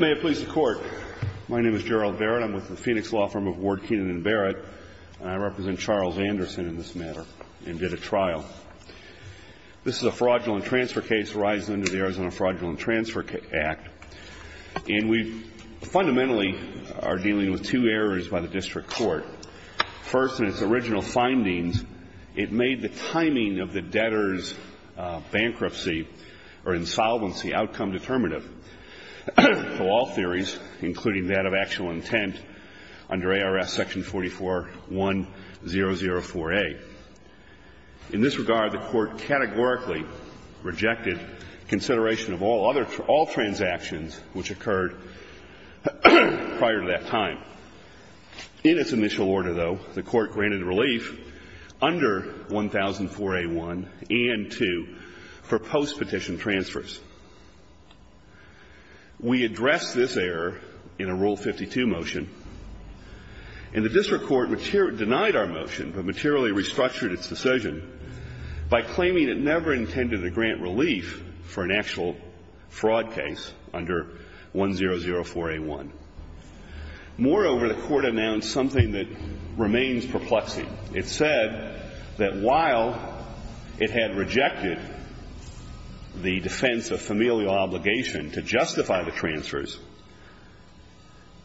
May it please the Court. My name is Gerald Barrett. I'm with the Phoenix Law Firm of Ward, Keenan & Barrett. I represent Charles Anderson in this matter and did a trial. This is a fraudulent transfer case arising under the Arizona Fraudulent Transfer Act. And we fundamentally are dealing with two errors by the District Court. First, in its original findings, it made the timing of the debtor's bankruptcy or insolvency outcome undeterminative to all theories, including that of actual intent under ARS section 44-1004A. In this regard, the Court categorically rejected consideration of all transactions which occurred prior to that time. In its initial order, though, the Court granted relief under 1004A1 and 2 for postpetition transfers. We addressed this error in a Rule 52 motion. And the District Court denied our motion but materially restructured its decision by claiming it never intended to grant relief for an actual fraud case under 1004A1. Moreover, the Court announced something that remains perplexing. It said that while it had rejected the defense of familial obligation to justify the transfers,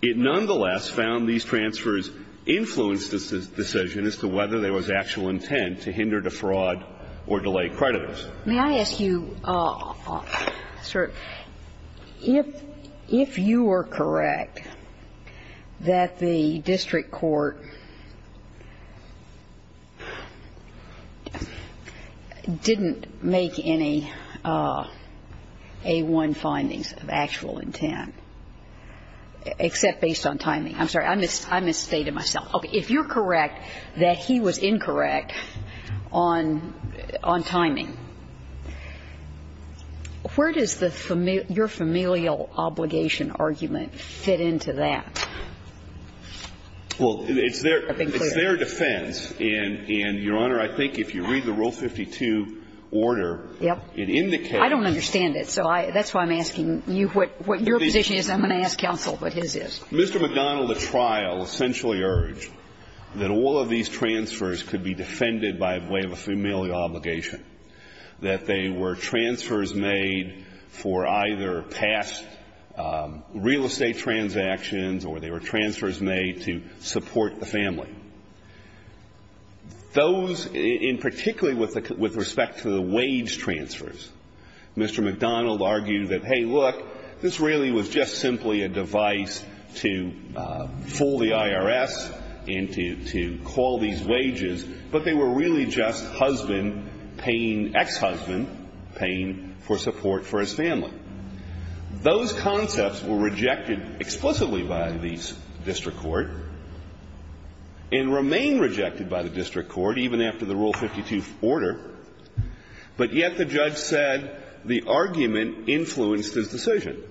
it nonetheless found these transfers influenced its decision as to whether there was actual intent to hinder, defraud, or delay creditors. May I ask you, sir, if you were correct that the District Court didn't make any A1 findings of actual intent, except based on timing? I'm sorry. I misstated myself. If you're correct that he was incorrect on timing, where does your familial obligation argument fit into that? Well, it's their defense. And, Your Honor, I think if you read the Rule 52 order, it indicates. I don't understand it. So that's why I'm asking you what your position is. I'm going to ask counsel what his is. Mr. McDonald, at trial, essentially urged that all of these transfers could be defended by way of a familial obligation, that they were transfers made for either past real estate transactions or they were transfers made to support the family. Those, and particularly with respect to the wage transfers, Mr. McDonald argued that, hey, look, this really was just simply a device to fool the IRS and to call these wages, but they were really just husband paying ex-husband, paying for support for his family. Those concepts were rejected explicitly by the District Court and remain rejected by the District Court, even after the Rule 52 order, but yet the judge said the argument influenced his decision.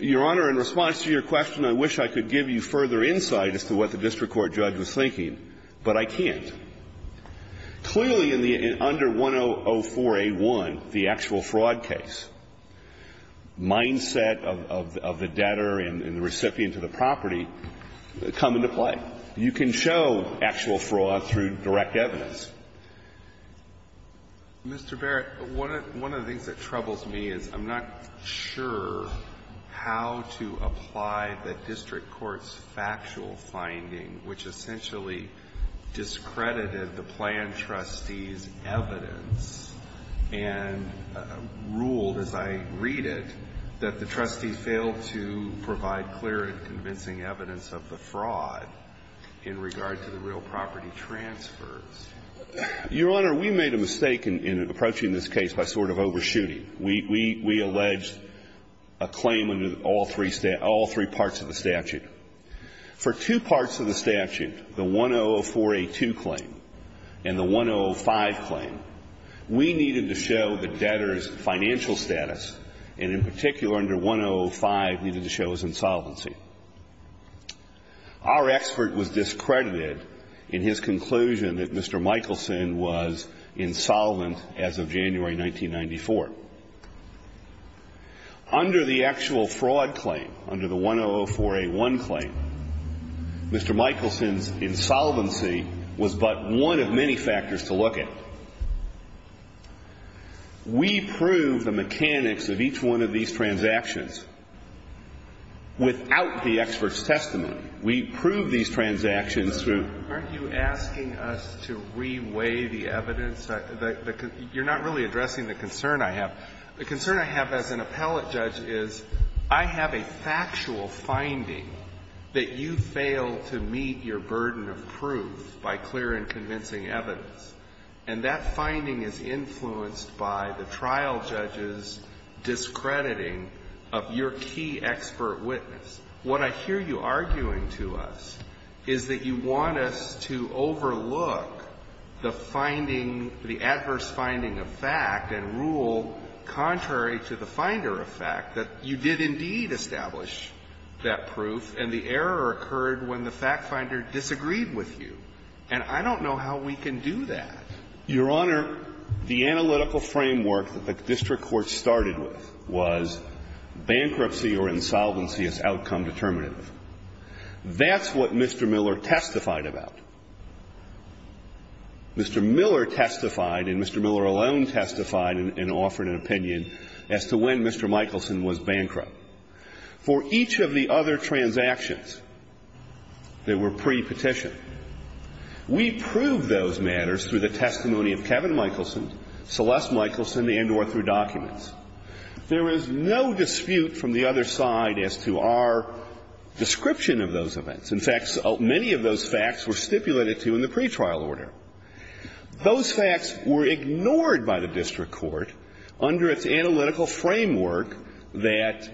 Your Honor, in response to your question, I wish I could give you further insight as to what the District Court judge was thinking, but I can't. Clearly, in the under 1004a1, the actual fraud case, mindset of the debtor and the recipient of the property come into play. You can show actual fraud through direct evidence. Mr. Barrett, one of the things that troubles me is I'm not sure how to apply the District Court's factual finding, which essentially discredited the planned trustee's evidence and ruled, as I read it, that the trustee failed to provide clear and convincing evidence of the fraud in regard to the real property transfers. Your Honor, we made a mistake in approaching this case by sort of overshooting. We alleged a claim under all three parts of the statute. For two parts of the statute, the 1004a2 claim and the 1005 claim, we needed to show the debtor's financial status, and in particular, under 1005, we needed to show his insolvency. Our expert was discredited in his conclusion that Mr. Michelson was insolvent as of January 1994. Under the actual fraud claim, under the 1004a1 claim, Mr. Michelson's insolvency was but one of many factors to look at. We proved the mechanics of each one of these transactions without the expert's testimony. We proved these transactions through ---- Aren't you asking us to reweigh the evidence? You're not really addressing the concern I have. The concern I have as an appellate judge is I have a factual finding that you failed to meet your burden of proof by clear and convincing evidence, and that finding is influenced by the trial judge's discrediting of your key expert witness. What I hear you arguing to us is that you want us to overlook the finding, the adverse finding of fact and rule contrary to the finder of fact, that you did indeed establish that proof, and the error occurred when the fact finder disagreed with you. And I don't know how we can do that. Your Honor, the analytical framework that the district court started with was bankruptcy or insolvency as outcome determinative. That's what Mr. Miller testified about. Mr. Miller testified and Mr. Miller alone testified and offered an opinion as to when Mr. Michelson was bankrupt. Mr. Miller testified and offered an opinion for each of the other transactions that were pre-petition. We proved those matters through the testimony of Kevin Michelson, Celeste Michelson, and or through documents. There is no dispute from the other side as to our description of those events. In fact, many of those facts were stipulated to in the pretrial order. Those facts were ignored by the district court under its analytical framework that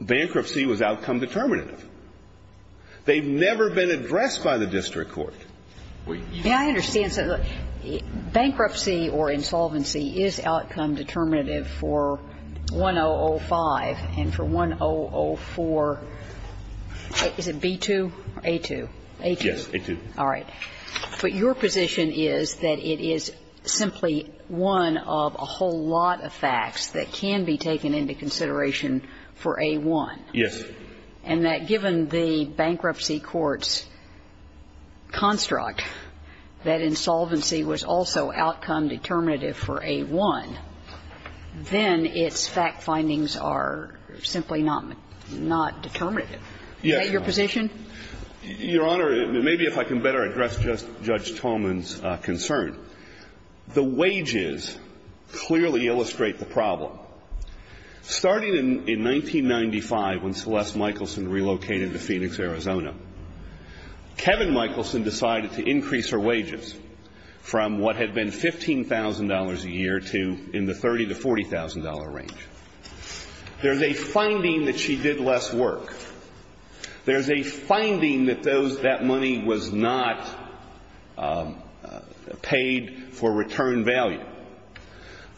bankruptcy was outcome determinative. They've never been addressed by the district court. Wait. May I understand something? Bankruptcy or insolvency is outcome determinative for 1005 and for 1004. Is it B-2 or A-2? A-2. Yes, A-2. All right. But your position is that it is simply one of a whole lot of facts that can be taken into consideration for A-1. Yes. And that given the bankruptcy court's construct that insolvency was also outcome determinative for A-1, then its fact findings are simply not determinative. Is that your position? Your Honor, maybe if I can better address Judge Tolman's concern. The wages clearly illustrate the problem. Starting in 1995 when Celeste Michelson relocated to Phoenix, Arizona, Kevin Michelson decided to increase her wages from what had been $15,000 a year to in the $30,000 to $40,000 range. There's a finding that she did less work. There's a finding that that money was not paid for return value.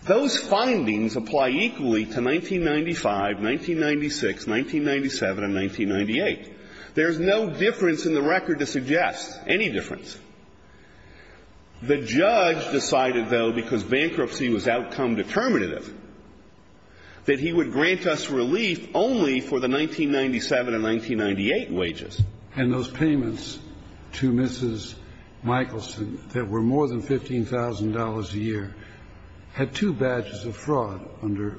Those findings apply equally to 1995, 1996, 1997, and 1998. There's no difference in the record to suggest any difference. The judge decided, though, because bankruptcy was outcome determinative, that he would grant us relief only for the 1997 and 1998 wages. And those payments to Mrs. Michelson that were more than $15,000 a year had two badges of fraud under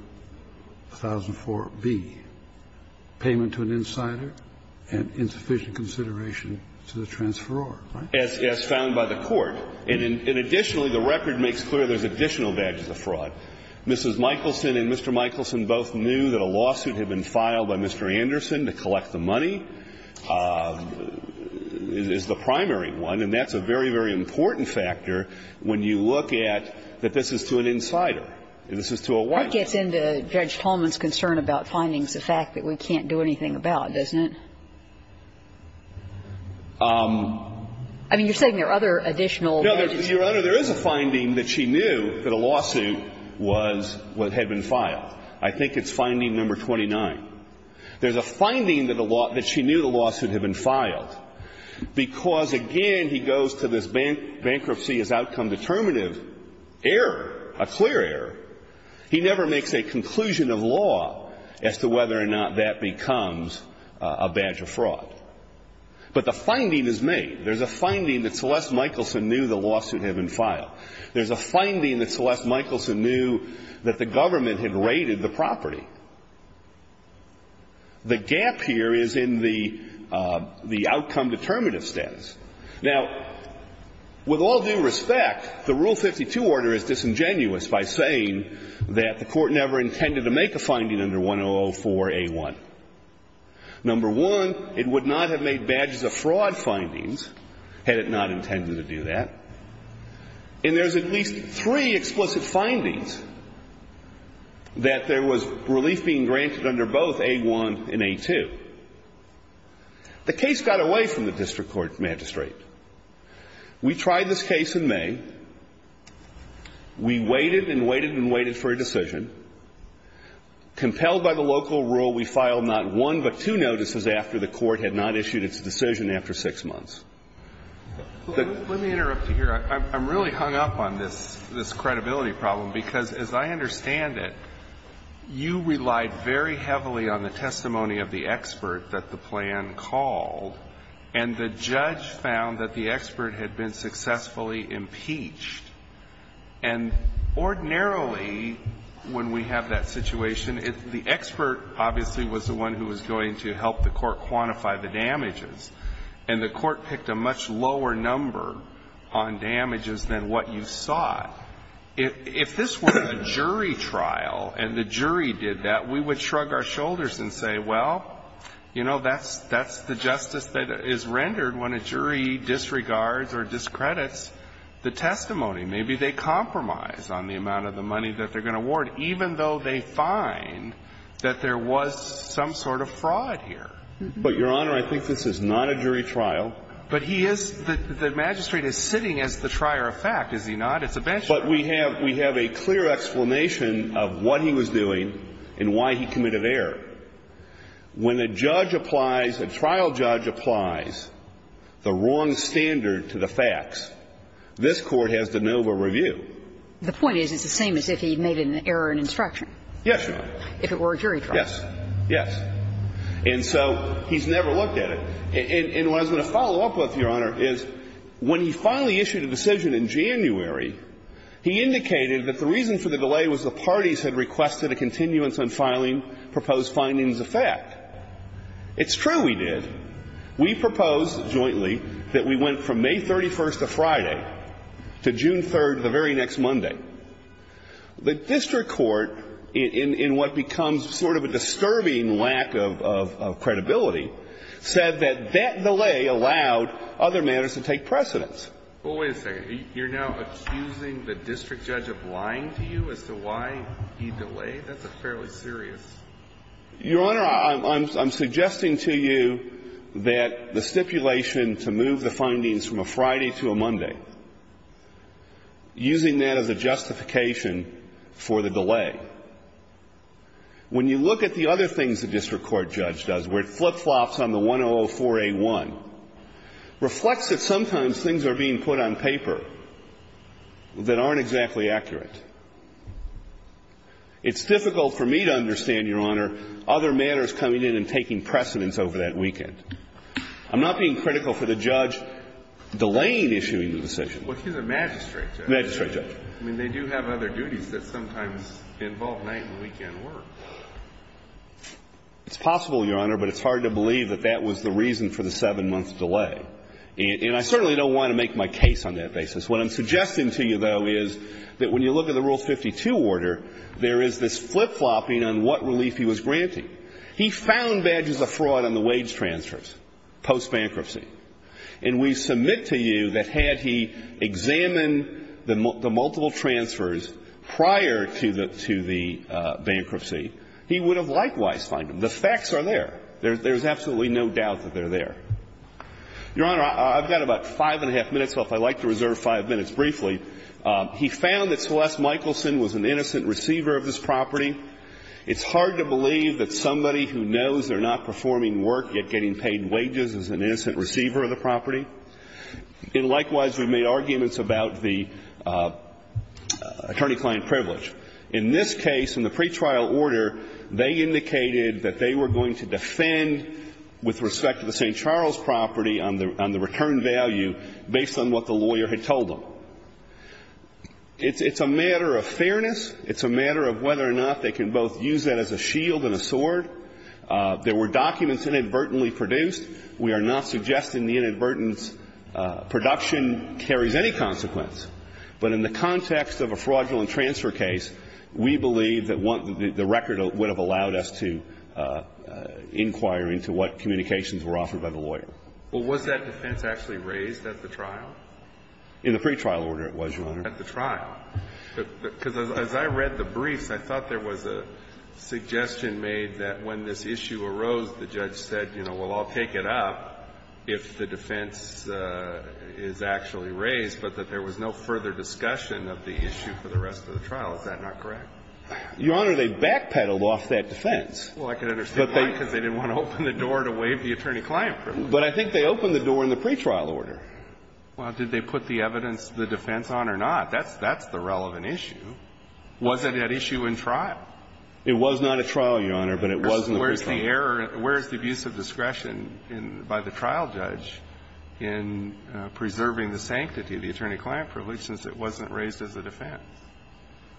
1004B, payment to an insider and insufficient consideration to the transferor, right? As found by the court. And additionally, the record makes clear there's additional badges of fraud. Mrs. Michelson and Mr. Michelson both knew that a lawsuit had been filed by Mr. Anderson to collect the money, is the primary one. And that's a very, very important factor when you look at that this is to an insider. This is to a white man. Kagan. That gets into Judge Tolman's concern about findings, the fact that we can't do anything about it, doesn't it? I mean, you're saying there are other additional badges. No, Your Honor, there is a finding that she knew that a lawsuit was what had been filed. I think it's finding number 29. There's a finding that she knew the lawsuit had been filed because, again, he goes to this bankruptcy as outcome determinative error, a clear error. He never makes a conclusion of law as to whether or not that becomes a badge of fraud. But the finding is made. There's a finding that Celeste Michelson knew the lawsuit had been filed. There's a finding that Celeste Michelson knew that the government had raided the property. The gap here is in the outcome determinative status. Now, with all due respect, the Rule 52 order is disingenuous by saying that the Court never intended to make a finding under 1004A1. Number one, it would not have made badges of fraud findings had it not intended to do that. And there's at least three explicit findings that there was relief being granted under both A1 and A2. The case got away from the district court magistrate. We tried this case in May. We waited and waited and waited for a decision. Compelled by the local rule, we filed not one but two notices after the Court had not issued its decision after six months. But the judge found that the expert had been successfully impeached. And ordinarily, when we have that situation, the expert obviously was the one who was going to help the Court quantify the damages. And the Court picked a much lower number on damages than what you saw. If this were a jury trial and the jury did that, we would shrug our shoulders and say, well, you know, that's the justice that is rendered when a jury disregards or discredits the testimony. Maybe they compromise on the amount of the money that they're going to award, even though they find that there was some sort of fraud here. But, Your Honor, I think this is not a jury trial. But he is the magistrate is sitting as the trier of fact, is he not? It's a bench trial. But we have a clear explanation of what he was doing and why he committed error. When a judge applies, a trial judge applies the wrong standard to the facts, this Court has de novo review. The point is it's the same as if he made an error in instruction. Yes, Your Honor. If it were a jury trial. Yes. Yes. And so he's never looked at it. And what I was going to follow up with, Your Honor, is when he finally issued a decision in January, he indicated that the reason for the delay was the parties had requested a continuance on filing proposed findings of fact. It's true we did. We proposed jointly that we went from May 31st of Friday to June 3rd of the very next Monday. The district court, in what becomes sort of a disturbing lack of credibility, said that that delay allowed other matters to take precedence. Well, wait a second. You're now accusing the district judge of lying to you as to why he delayed? That's fairly serious. Your Honor, I'm suggesting to you that the stipulation to move the findings from a Friday to a Monday, using that as a justification for the delay. When you look at the other things the district court judge does, where it flip-flops on the 1004A1, reflects that sometimes things are being put on paper that aren't exactly accurate. It's difficult for me to understand, Your Honor, other matters coming in and taking precedence over that weekend. I'm not being critical for the judge delaying issuing the decision. Well, he's a magistrate judge. Magistrate judge. I mean, they do have other duties that sometimes involve night and weekend work. It's possible, Your Honor, but it's hard to believe that that was the reason for the 7-month delay. And I certainly don't want to make my case on that basis. What I'm suggesting to you, though, is that when you look at the Rule 52 order, there is this flip-flopping on what relief he was granting. He found badges of fraud on the wage transfers post-bankruptcy. And we submit to you that had he examined the multiple transfers prior to the bankruptcy, he would have likewise found them. The facts are there. There's absolutely no doubt that they're there. Your Honor, I've got about five and a half minutes, so if I'd like to reserve five minutes briefly. He found that Celeste Michelson was an innocent receiver of this property. It's hard to believe that somebody who knows they're not performing work yet getting paid wages is an innocent receiver of the property. And likewise, we've made arguments about the attorney-client privilege. In this case, in the pretrial order, they indicated that they were going to defend with respect to the St. Charles property on the return value based on what the lawyer had told them. It's a matter of fairness. It's a matter of whether or not they can both use that as a shield and a sword. There were documents inadvertently produced. We are not suggesting the inadvertent production carries any consequence. But in the context of a fraudulent transfer case, we believe that the record would have allowed us to inquire into what communications were offered by the lawyer. Well, was that defense actually raised at the trial? In the pretrial order, it was, Your Honor. At the trial. Because as I read the briefs, I thought there was a suggestion made that when this issue arose, the judge said, you know, well, I'll take it up if the defense is actually raised, but that there was no further discussion of the issue for the rest of the trial. Is that not correct? Your Honor, they backpedaled off that defense. Well, I can understand why, because they didn't want to open the door to waive the attorney-client privilege. But I think they opened the door in the pretrial order. Well, did they put the evidence, the defense on or not? That's the relevant issue. Was it an issue in trial? It was not a trial, Your Honor, but it was in the pretrial order. So where is the error, where is the abuse of discretion by the trial judge in preserving the sanctity of the attorney-client privilege since it wasn't raised as a defense?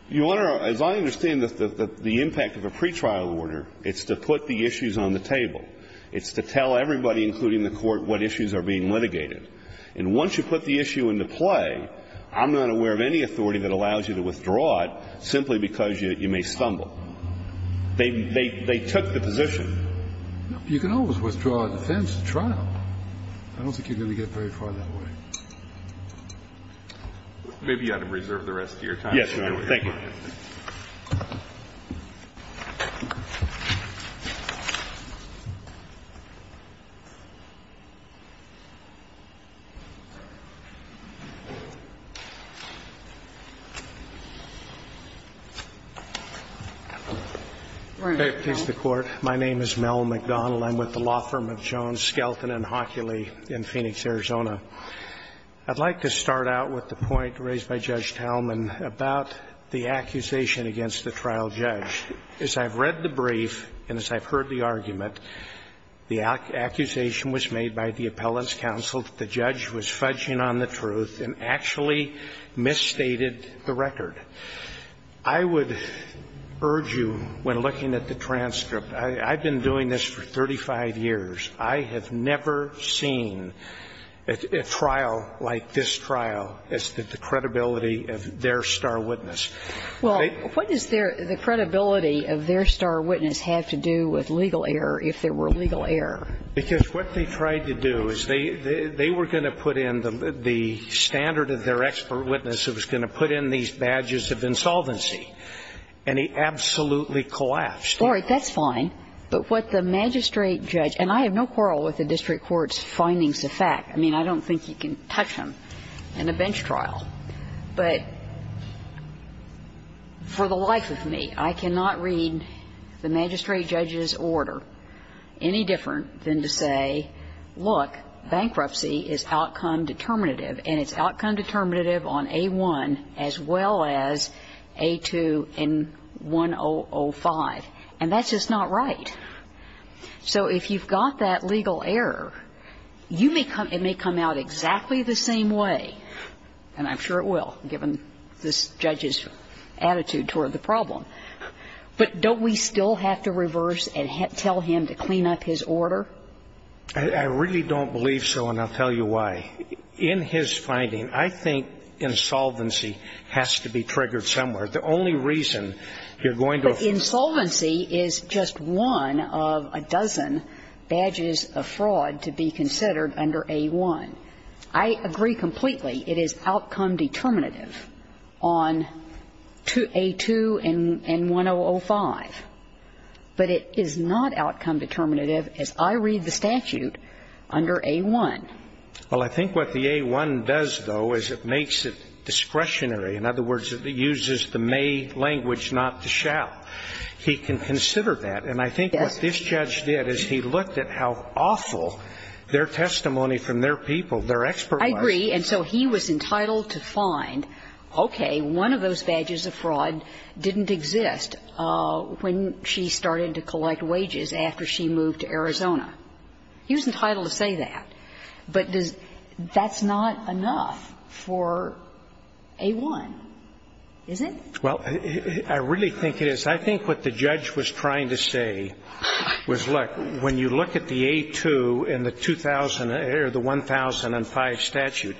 Your Honor, as I understand the impact of a pretrial order, it's to put the issues on the table. It's to tell everybody, including the Court, what issues are being litigated. And once you put the issue into play, I'm not aware of any authority that allows you to withdraw it simply because you may stumble. They took the position. You can always withdraw a defense in trial. I don't think you're going to get very far that way. Maybe you ought to reserve the rest of your time. Yes, Your Honor. Thank you. Please, the Court. My name is Mel McDonald. I'm with the law firm of Jones, Skelton and Hockeley in Phoenix, Arizona. I'd like to start out with the point raised by Judge Talman about the accusation against the trial judge. As I've read the brief and as I've heard the argument, the accusation was made by the appellant's counsel that the judge was fudging on the truth and actually misstated the record. I would urge you, when looking at the transcript, I've been doing this for 35 years. I have never seen a trial like this trial as to the credibility of their star witness. Well, what does the credibility of their star witness have to do with legal error if there were legal error? Because what they tried to do is they were going to put in the standard of their expert witness who was going to put in these badges of insolvency. And he absolutely collapsed. All right. That's fine. But what the magistrate judge, and I have no quarrel with the district court's findings of fact. I mean, I don't think you can touch them in a bench trial. But for the life of me, I cannot read the magistrate judge's order any different than to say, look, bankruptcy is outcome determinative, and it's outcome determinative on A1 as well as A2 and 1005. And that's just not right. So if you've got that legal error, you may come – it may come out exactly the same way, and I'm sure it will, given this judge's attitude toward the problem. But don't we still have to reverse and tell him to clean up his order? I really don't believe so, and I'll tell you why. In his finding, I think insolvency has to be triggered somewhere. The only reason you're going to – But insolvency is just one of a dozen badges of fraud to be considered under A1. I agree completely it is outcome determinative on A2 and 1005. But it is not outcome determinative, as I read the statute, under A1. Well, I think what the A1 does, though, is it makes it discretionary. In other words, it uses the may language, not the shall. He can consider that. And I think what this judge did is he looked at how awful their testimony from their people, their experts was. I agree. And so he was entitled to find, okay, one of those badges of fraud didn't exist when she started to collect wages after she moved to Arizona. He was entitled to say that. But that's not enough for A1, is it? Well, I really think it is. I think what the judge was trying to say was, look, when you look at the A2 and the 1005 statute,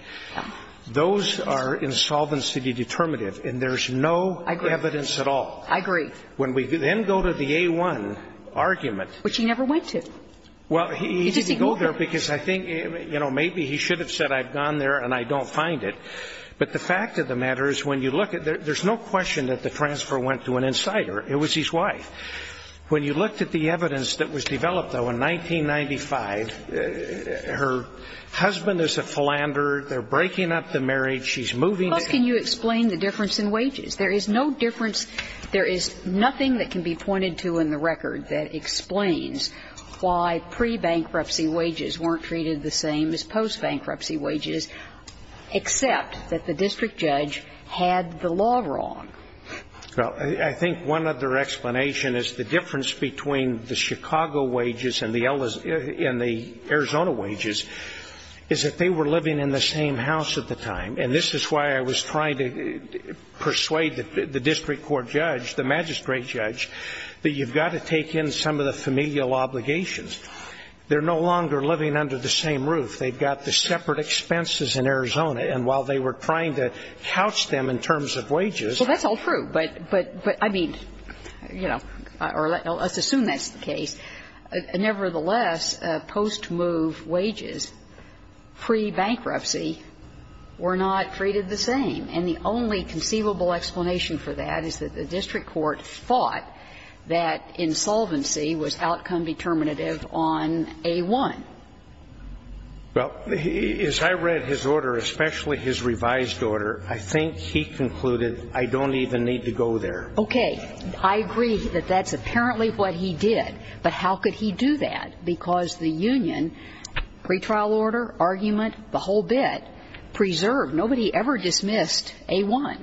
those are insolvency determinative, and there's no evidence at all. I agree. When we then go to the A1 argument. Which he never went to. Well, he didn't go there because I think, you know, maybe he should have said, I've gone there and I don't find it. But the fact of the matter is when you look at it, there's no question that the transfer went to an insider. It was his wife. When you looked at the evidence that was developed, though, in 1995, her husband is a philanderer. They're breaking up the marriage. She's moving in. Plus, can you explain the difference in wages? There is no difference. There is nothing that can be pointed to in the record that explains why pre-bankruptcy wages weren't treated the same as post-bankruptcy wages, except that the district judge had the law wrong. Well, I think one other explanation is the difference between the Chicago wages and the Arizona wages is that they were living in the same house at the time. And this is why I was trying to persuade the district court judge, the magistrate judge, that you've got to take in some of the familial obligations. They're no longer living under the same roof. They've got the separate expenses in Arizona. And while they were trying to couch them in terms of wages. Well, that's all true. But, I mean, you know, or let's assume that's the case. Nevertheless, post-move wages pre-bankruptcy were not treated the same. And the only conceivable explanation for that is that the district court thought that insolvency was outcome determinative on A-1. Well, as I read his order, especially his revised order, I think he concluded I don't even need to go there. Okay. I agree that that's apparently what he did. But how could he do that? Because the union, pretrial order, argument, the whole bit, preserved. Nobody ever dismissed A-1.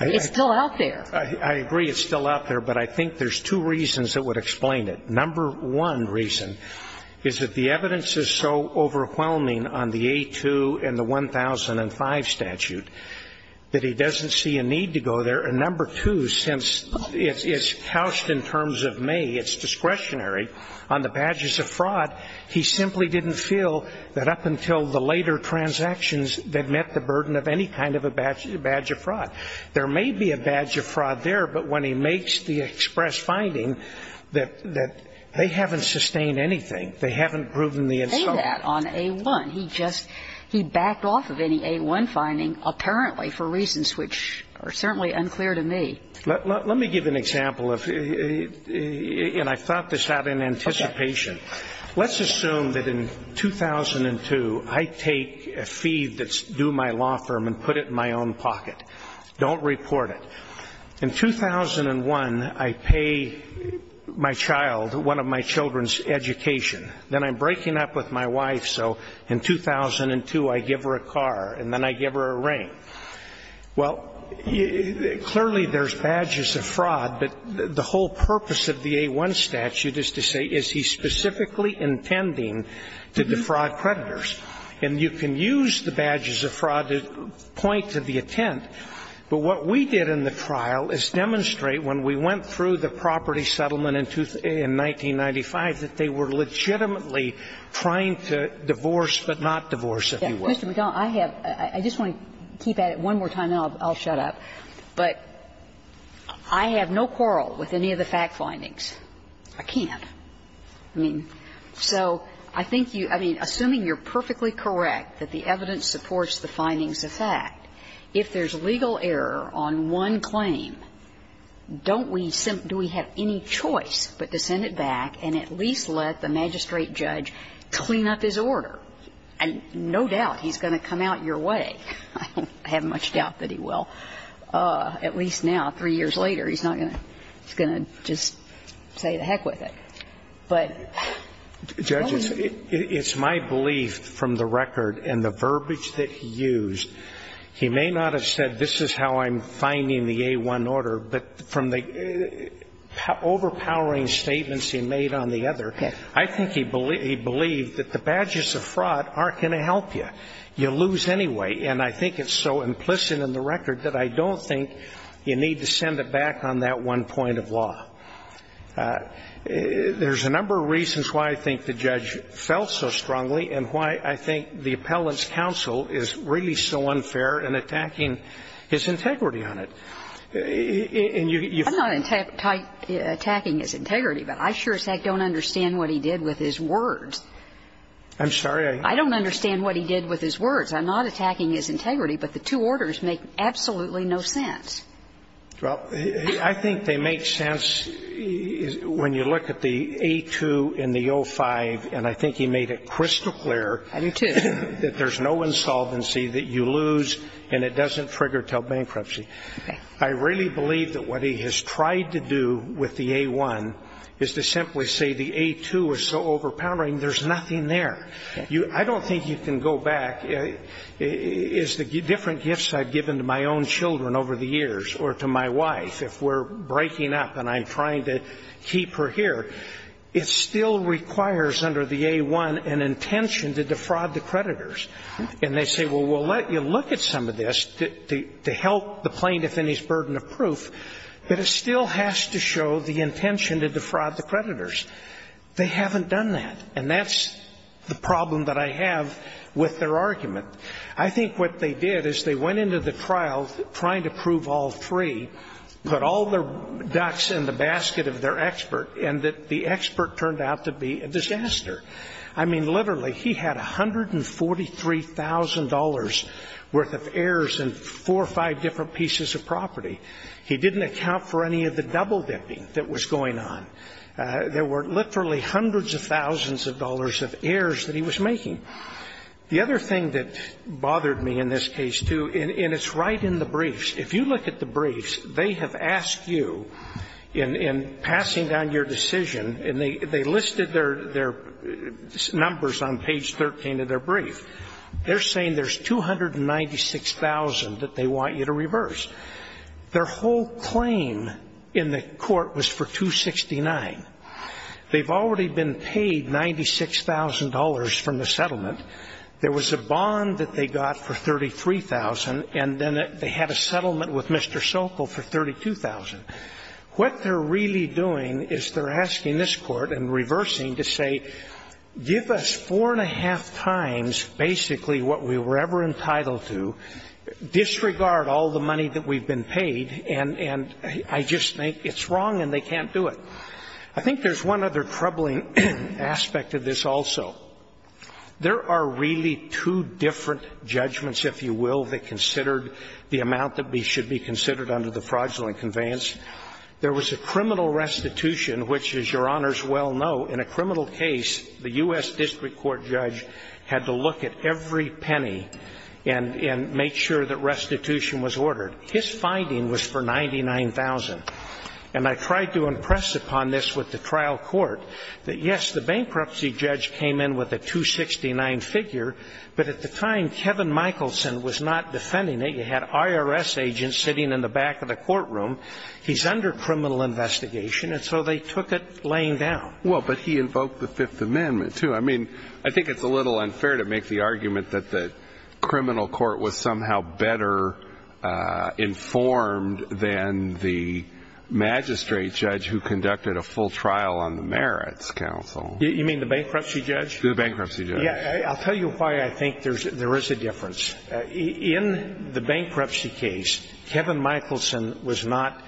It's still out there. I agree it's still out there. But I think there's two reasons that would explain it. Number one reason is that the evidence is so overwhelming on the A-2 and the 1005 statute that he doesn't see a need to go there. And number two, since it's couched in terms of may, it's discretionary on the badges of fraud, he simply didn't feel that up until the later transactions that met the burden of any kind of a badge of fraud. There may be a badge of fraud there, but when he makes the express finding that they haven't sustained anything, they haven't proven the insolvency. And he didn't do that on A-1. He just he backed off of any A-1 finding apparently for reasons which are certainly unclear to me. Let me give an example of, and I thought this out in anticipation. Let's assume that in 2002, I take a fee that's due my law firm and put it in my own pocket, don't report it. In 2001, I pay my child, one of my children's education. Then I'm breaking up with my wife, so in 2002, I give her a car and then I give her a ring. Well, clearly there's badges of fraud, but the whole purpose of the A-1 statute is to say, is he specifically intending to defraud creditors? And you can use the badges of fraud to point to the intent, but what we did in the trial is demonstrate when we went through the property settlement in 1995 that they were legitimately trying to divorce but not divorce, if you will. Yeah. Mr. McDonnell, I have to keep at it one more time and then I'll shut up, but I have no quarrel with any of the fact findings. I can't. I mean, so I think you, I mean, assuming you're perfectly correct that the evidence supports the findings of fact, if there's legal error on one claim, don't we, do we have any choice but to send it back and at least let the magistrate judge clean up his order? And no doubt he's going to come out your way. I don't have much doubt that he will. At least now, three years later, he's not going to, he's going to just say to heck with it. Judges, it's my belief from the record and the verbiage that he used, he may not have said this is how I'm finding the A1 order, but from the overpowering statements he made on the other, I think he believed that the badges of fraud aren't going to help you. You lose anyway. And I think it's so implicit in the record that I don't think you need to send it back on that one point of law. There's a number of reasons why I think the judge fell so strongly and why I think the appellant's counsel is really so unfair in attacking his integrity on it. And you've got to be careful. I'm not attacking his integrity, but I sure as heck don't understand what he did with his words. I'm sorry? I don't understand what he did with his words. I'm not attacking his integrity, but the two orders make absolutely no sense. Well, I think they make sense when you look at the A2 and the O5, and I think he made it crystal clear that there's no insolvency, that you lose, and it doesn't trigger until bankruptcy. I really believe that what he has tried to do with the A1 is to simply say the A2 is so overpowering, there's nothing there. I don't think you can go back. And I think that the problem is that the A1 is the different gifts I've given to my own children over the years or to my wife if we're breaking up and I'm trying to keep her here, it still requires under the A1 an intention to defraud the creditors. And they say, well, we'll let you look at some of this to help the plaintiff in his burden of proof, but it still has to show the intention to defraud the creditors. They haven't done that, and that's the problem that I have with their argument. I think what they did is they went into the trial trying to prove all three, put all their ducks in the basket of their expert, and the expert turned out to be a disaster. I mean, literally, he had $143,000 worth of errors in four or five different pieces of property. He didn't account for any of the double-dipping that was going on. There were literally hundreds of thousands of dollars of errors that he was making. The other thing that bothered me in this case, too, and it's right in the briefs, if you look at the briefs, they have asked you in passing down your decision and they listed their numbers on page 13 of their brief, they're saying there's 296,000 that they want you to reverse. Their whole claim in the court was for 269. They've already been paid $96,000 from the settlement. There was a bond that they got for 33,000, and then they had a settlement with Mr. Sokol for 32,000. What they're really doing is they're asking this Court and reversing to say, give us four and a half times basically what we were ever entitled to, disregard all the money that we've been paid, and I just think it's wrong and they can't do it. I think there's one other troubling aspect of this also. There are really two different judgments, if you will, that considered the amount that should be considered under the fraudulent conveyance. There was a criminal restitution, which, as Your Honors well know, in a criminal case, the U.S. district court judge had to look at every penny and make sure that his finding was for 99,000. And I tried to impress upon this with the trial court that, yes, the bankruptcy judge came in with a 269 figure, but at the time, Kevin Michelson was not defending it. You had IRS agents sitting in the back of the courtroom. He's under criminal investigation, and so they took it laying down. Well, but he invoked the Fifth Amendment, too. I mean, I think it's a little unfair to make the argument that the criminal court was somehow better informed than the magistrate judge who conducted a full trial on the merits counsel. You mean the bankruptcy judge? The bankruptcy judge. Yeah. I'll tell you why I think there is a difference. In the bankruptcy case, Kevin Michelson was not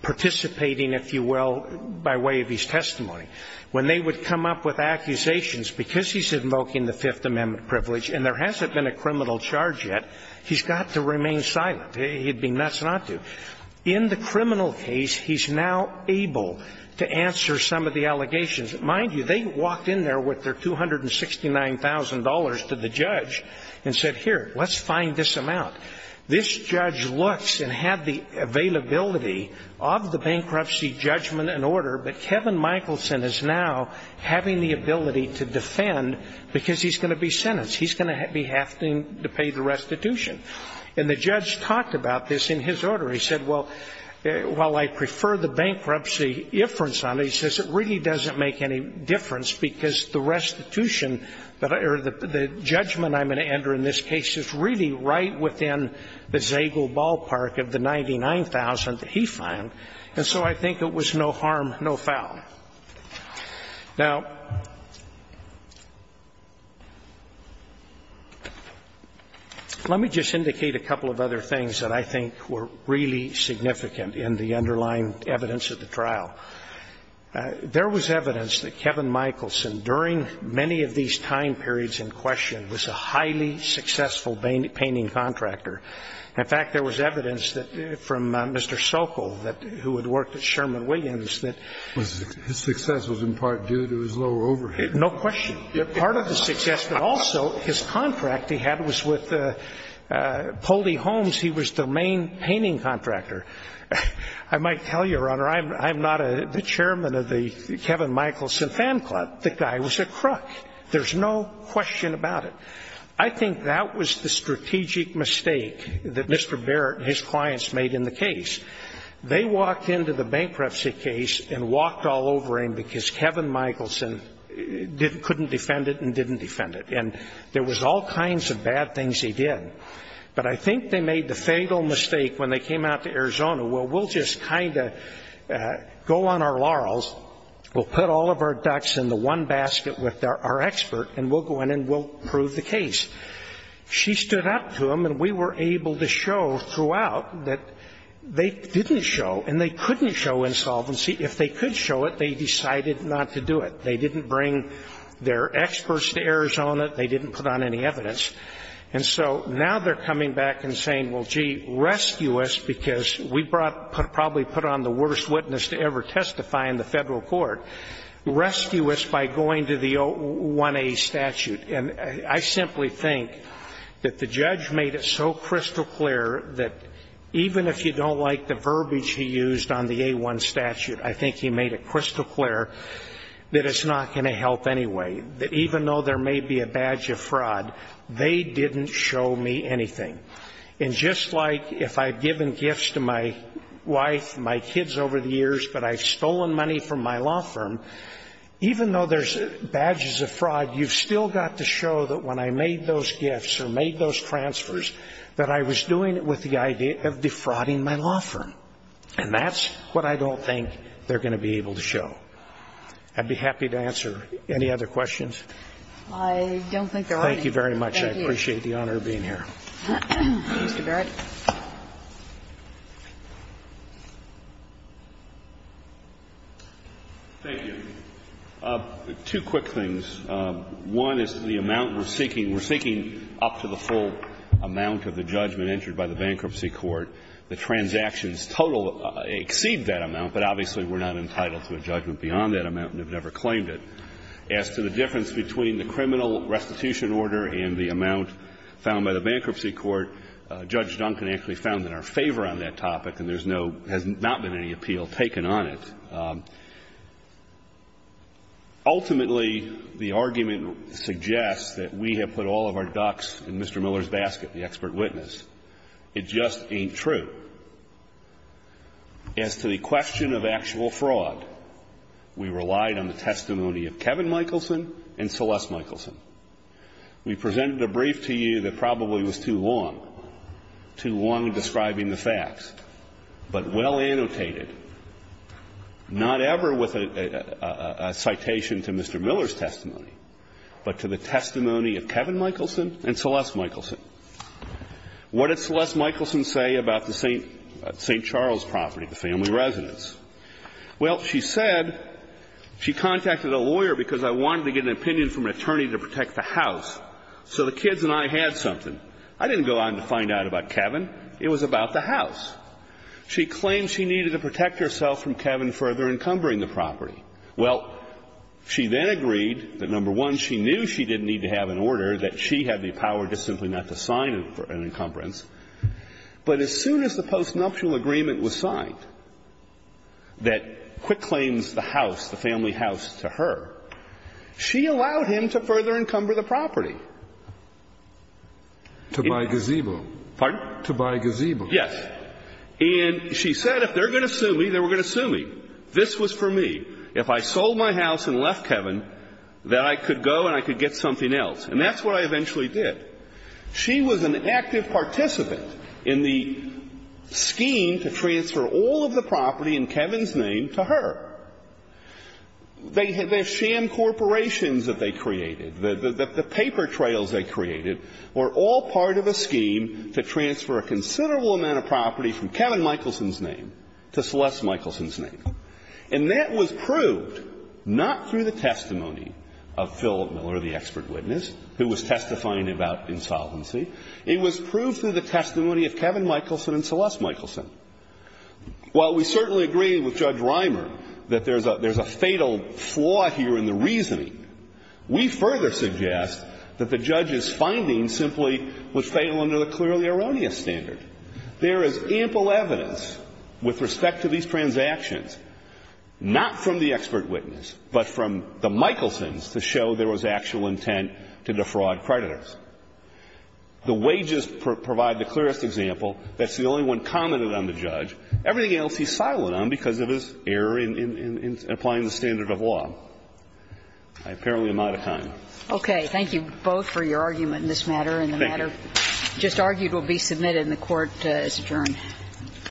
participating, if you will, by way of his testimony. When they would come up with accusations, because he's invoking the Fifth Amendment privilege, and there hasn't been a criminal charge yet, he's got to remain silent. He'd be nuts not to. In the criminal case, he's now able to answer some of the allegations. Mind you, they walked in there with their $269,000 to the judge and said, here, let's find this amount. This judge looks and had the availability of the bankruptcy judgment and order, but he's going to have to pay the restitution. And the judge talked about this in his order. He said, well, while I prefer the bankruptcy inference on it, he says it really doesn't make any difference because the restitution or the judgment I'm going to enter in this case is really right within the Zagel ballpark of the $99,000 that he fined, and so I think it was no harm, no foul. Now, let me just indicate a couple of other things that I think were really significant in the underlying evidence of the trial. There was evidence that Kevin Michelson, during many of these time periods in question, was a highly successful painting contractor. In fact, there was evidence from Mr. Sokol, who had worked at Sherman Williams, that his success was in part due to his low overhead. No question. Part of the success, but also his contract he had was with Poldy Homes. He was the main painting contractor. I might tell you, Your Honor, I'm not the chairman of the Kevin Michelson fan club. The guy was a crook. There's no question about it. I think that was the strategic mistake that Mr. Barrett and his clients made in the They walked into the bankruptcy case and walked all over him because Kevin Michelson couldn't defend it and didn't defend it. And there was all kinds of bad things he did. But I think they made the fatal mistake when they came out to Arizona, well, we'll just kind of go on our laurels, we'll put all of our ducks in the one basket with our expert, and we'll go in and we'll prove the case. She stood up to him and we were able to show throughout that they didn't show and they couldn't show insolvency. If they could show it, they decided not to do it. They didn't bring their experts to Arizona. They didn't put on any evidence. And so now they're coming back and saying, well, gee, rescue us because we probably put on the worst witness to ever testify in the federal court. Rescue us by going to the 1A statute. And I simply think that the judge made it so crystal clear that even if you don't like the verbiage he used on the A-1 statute, I think he made it crystal clear that it's not going to help anyway, that even though there may be a badge of fraud, they didn't show me anything. And just like if I've given gifts to my wife and my kids over the years, but I've stolen money from my law firm, even though there's badges of fraud, you've still got to show that when I made those gifts or made those transfers that I was doing it with the idea of defrauding my law firm. And that's what I don't think they're going to be able to show. I'd be happy to answer any other questions. Thank you very much. I appreciate the honor of being here. Mr. Barrett. Thank you. Two quick things. One is the amount we're seeking. We're seeking up to the full amount of the judgment entered by the bankruptcy court. The transactions total exceed that amount, but obviously we're not entitled to a judgment beyond that amount and have never claimed it. As to the difference between the criminal restitution order and the amount found by the bankruptcy court, Judge Duncan actually found in our favor on that topic and there's no, has not been any appeal taken on it. Ultimately, the argument suggests that we have put all of our ducks in Mr. Miller's basket, the expert witness. It just ain't true. As to the question of actual fraud, we relied on the testimony of Kevin Michelson and Celeste Michelson. We presented a brief to you that probably was too long, too long describing the facts, but well annotated, not ever with a citation to Mr. Miller's testimony, but to the testimony of Kevin Michelson and Celeste Michelson. What did Celeste Michelson say about the St. Charles property, the family residence? Well, she said she contacted a lawyer because I wanted to get an opinion from an attorney to protect the house, so the kids and I had something. I didn't go on to find out about Kevin. It was about the house. She claimed she needed to protect herself from Kevin further encumbering the property. Well, she then agreed that, number one, she knew she didn't need to have an order, that she had the power just simply not to sign an encumbrance. But as soon as the postnuptial agreement was signed that Quick claims the house, the family house, to her, she allowed him to further encumber the property. To buy gazebo. Pardon? To buy gazebo. Yes. And she said if they're going to sue me, they're going to sue me. This was for me. If I sold my house and left Kevin, then I could go and I could get something else. And that's what I eventually did. She was an active participant in the scheme to transfer all of the property in Kevin's name to her. The sham corporations that they created, the paper trails they created, were all part of a scheme to transfer a considerable amount of property from Kevin Michelson's name to Celeste Michelson's name. And that was proved not through the testimony of Philip Miller, the expert witness who was testifying about insolvency. It was proved through the testimony of Kevin Michelson and Celeste Michelson. While we certainly agree with Judge Reimer that there's a fatal flaw here in the reasoning, we further suggest that the judge's findings simply was fatal under the clearly erroneous standard. There is ample evidence with respect to these transactions, not from the expert witness, but from the Michelsons to show there was actual intent to defraud creditors. The wages provide the clearest example. That's the only one commented on the judge. Everything else he's silent on because of his error in applying the standard of law. I apparently am out of time. Okay. Thank you both for your argument in this matter. Thank you. And the matter just argued will be submitted and the Court is adjourned.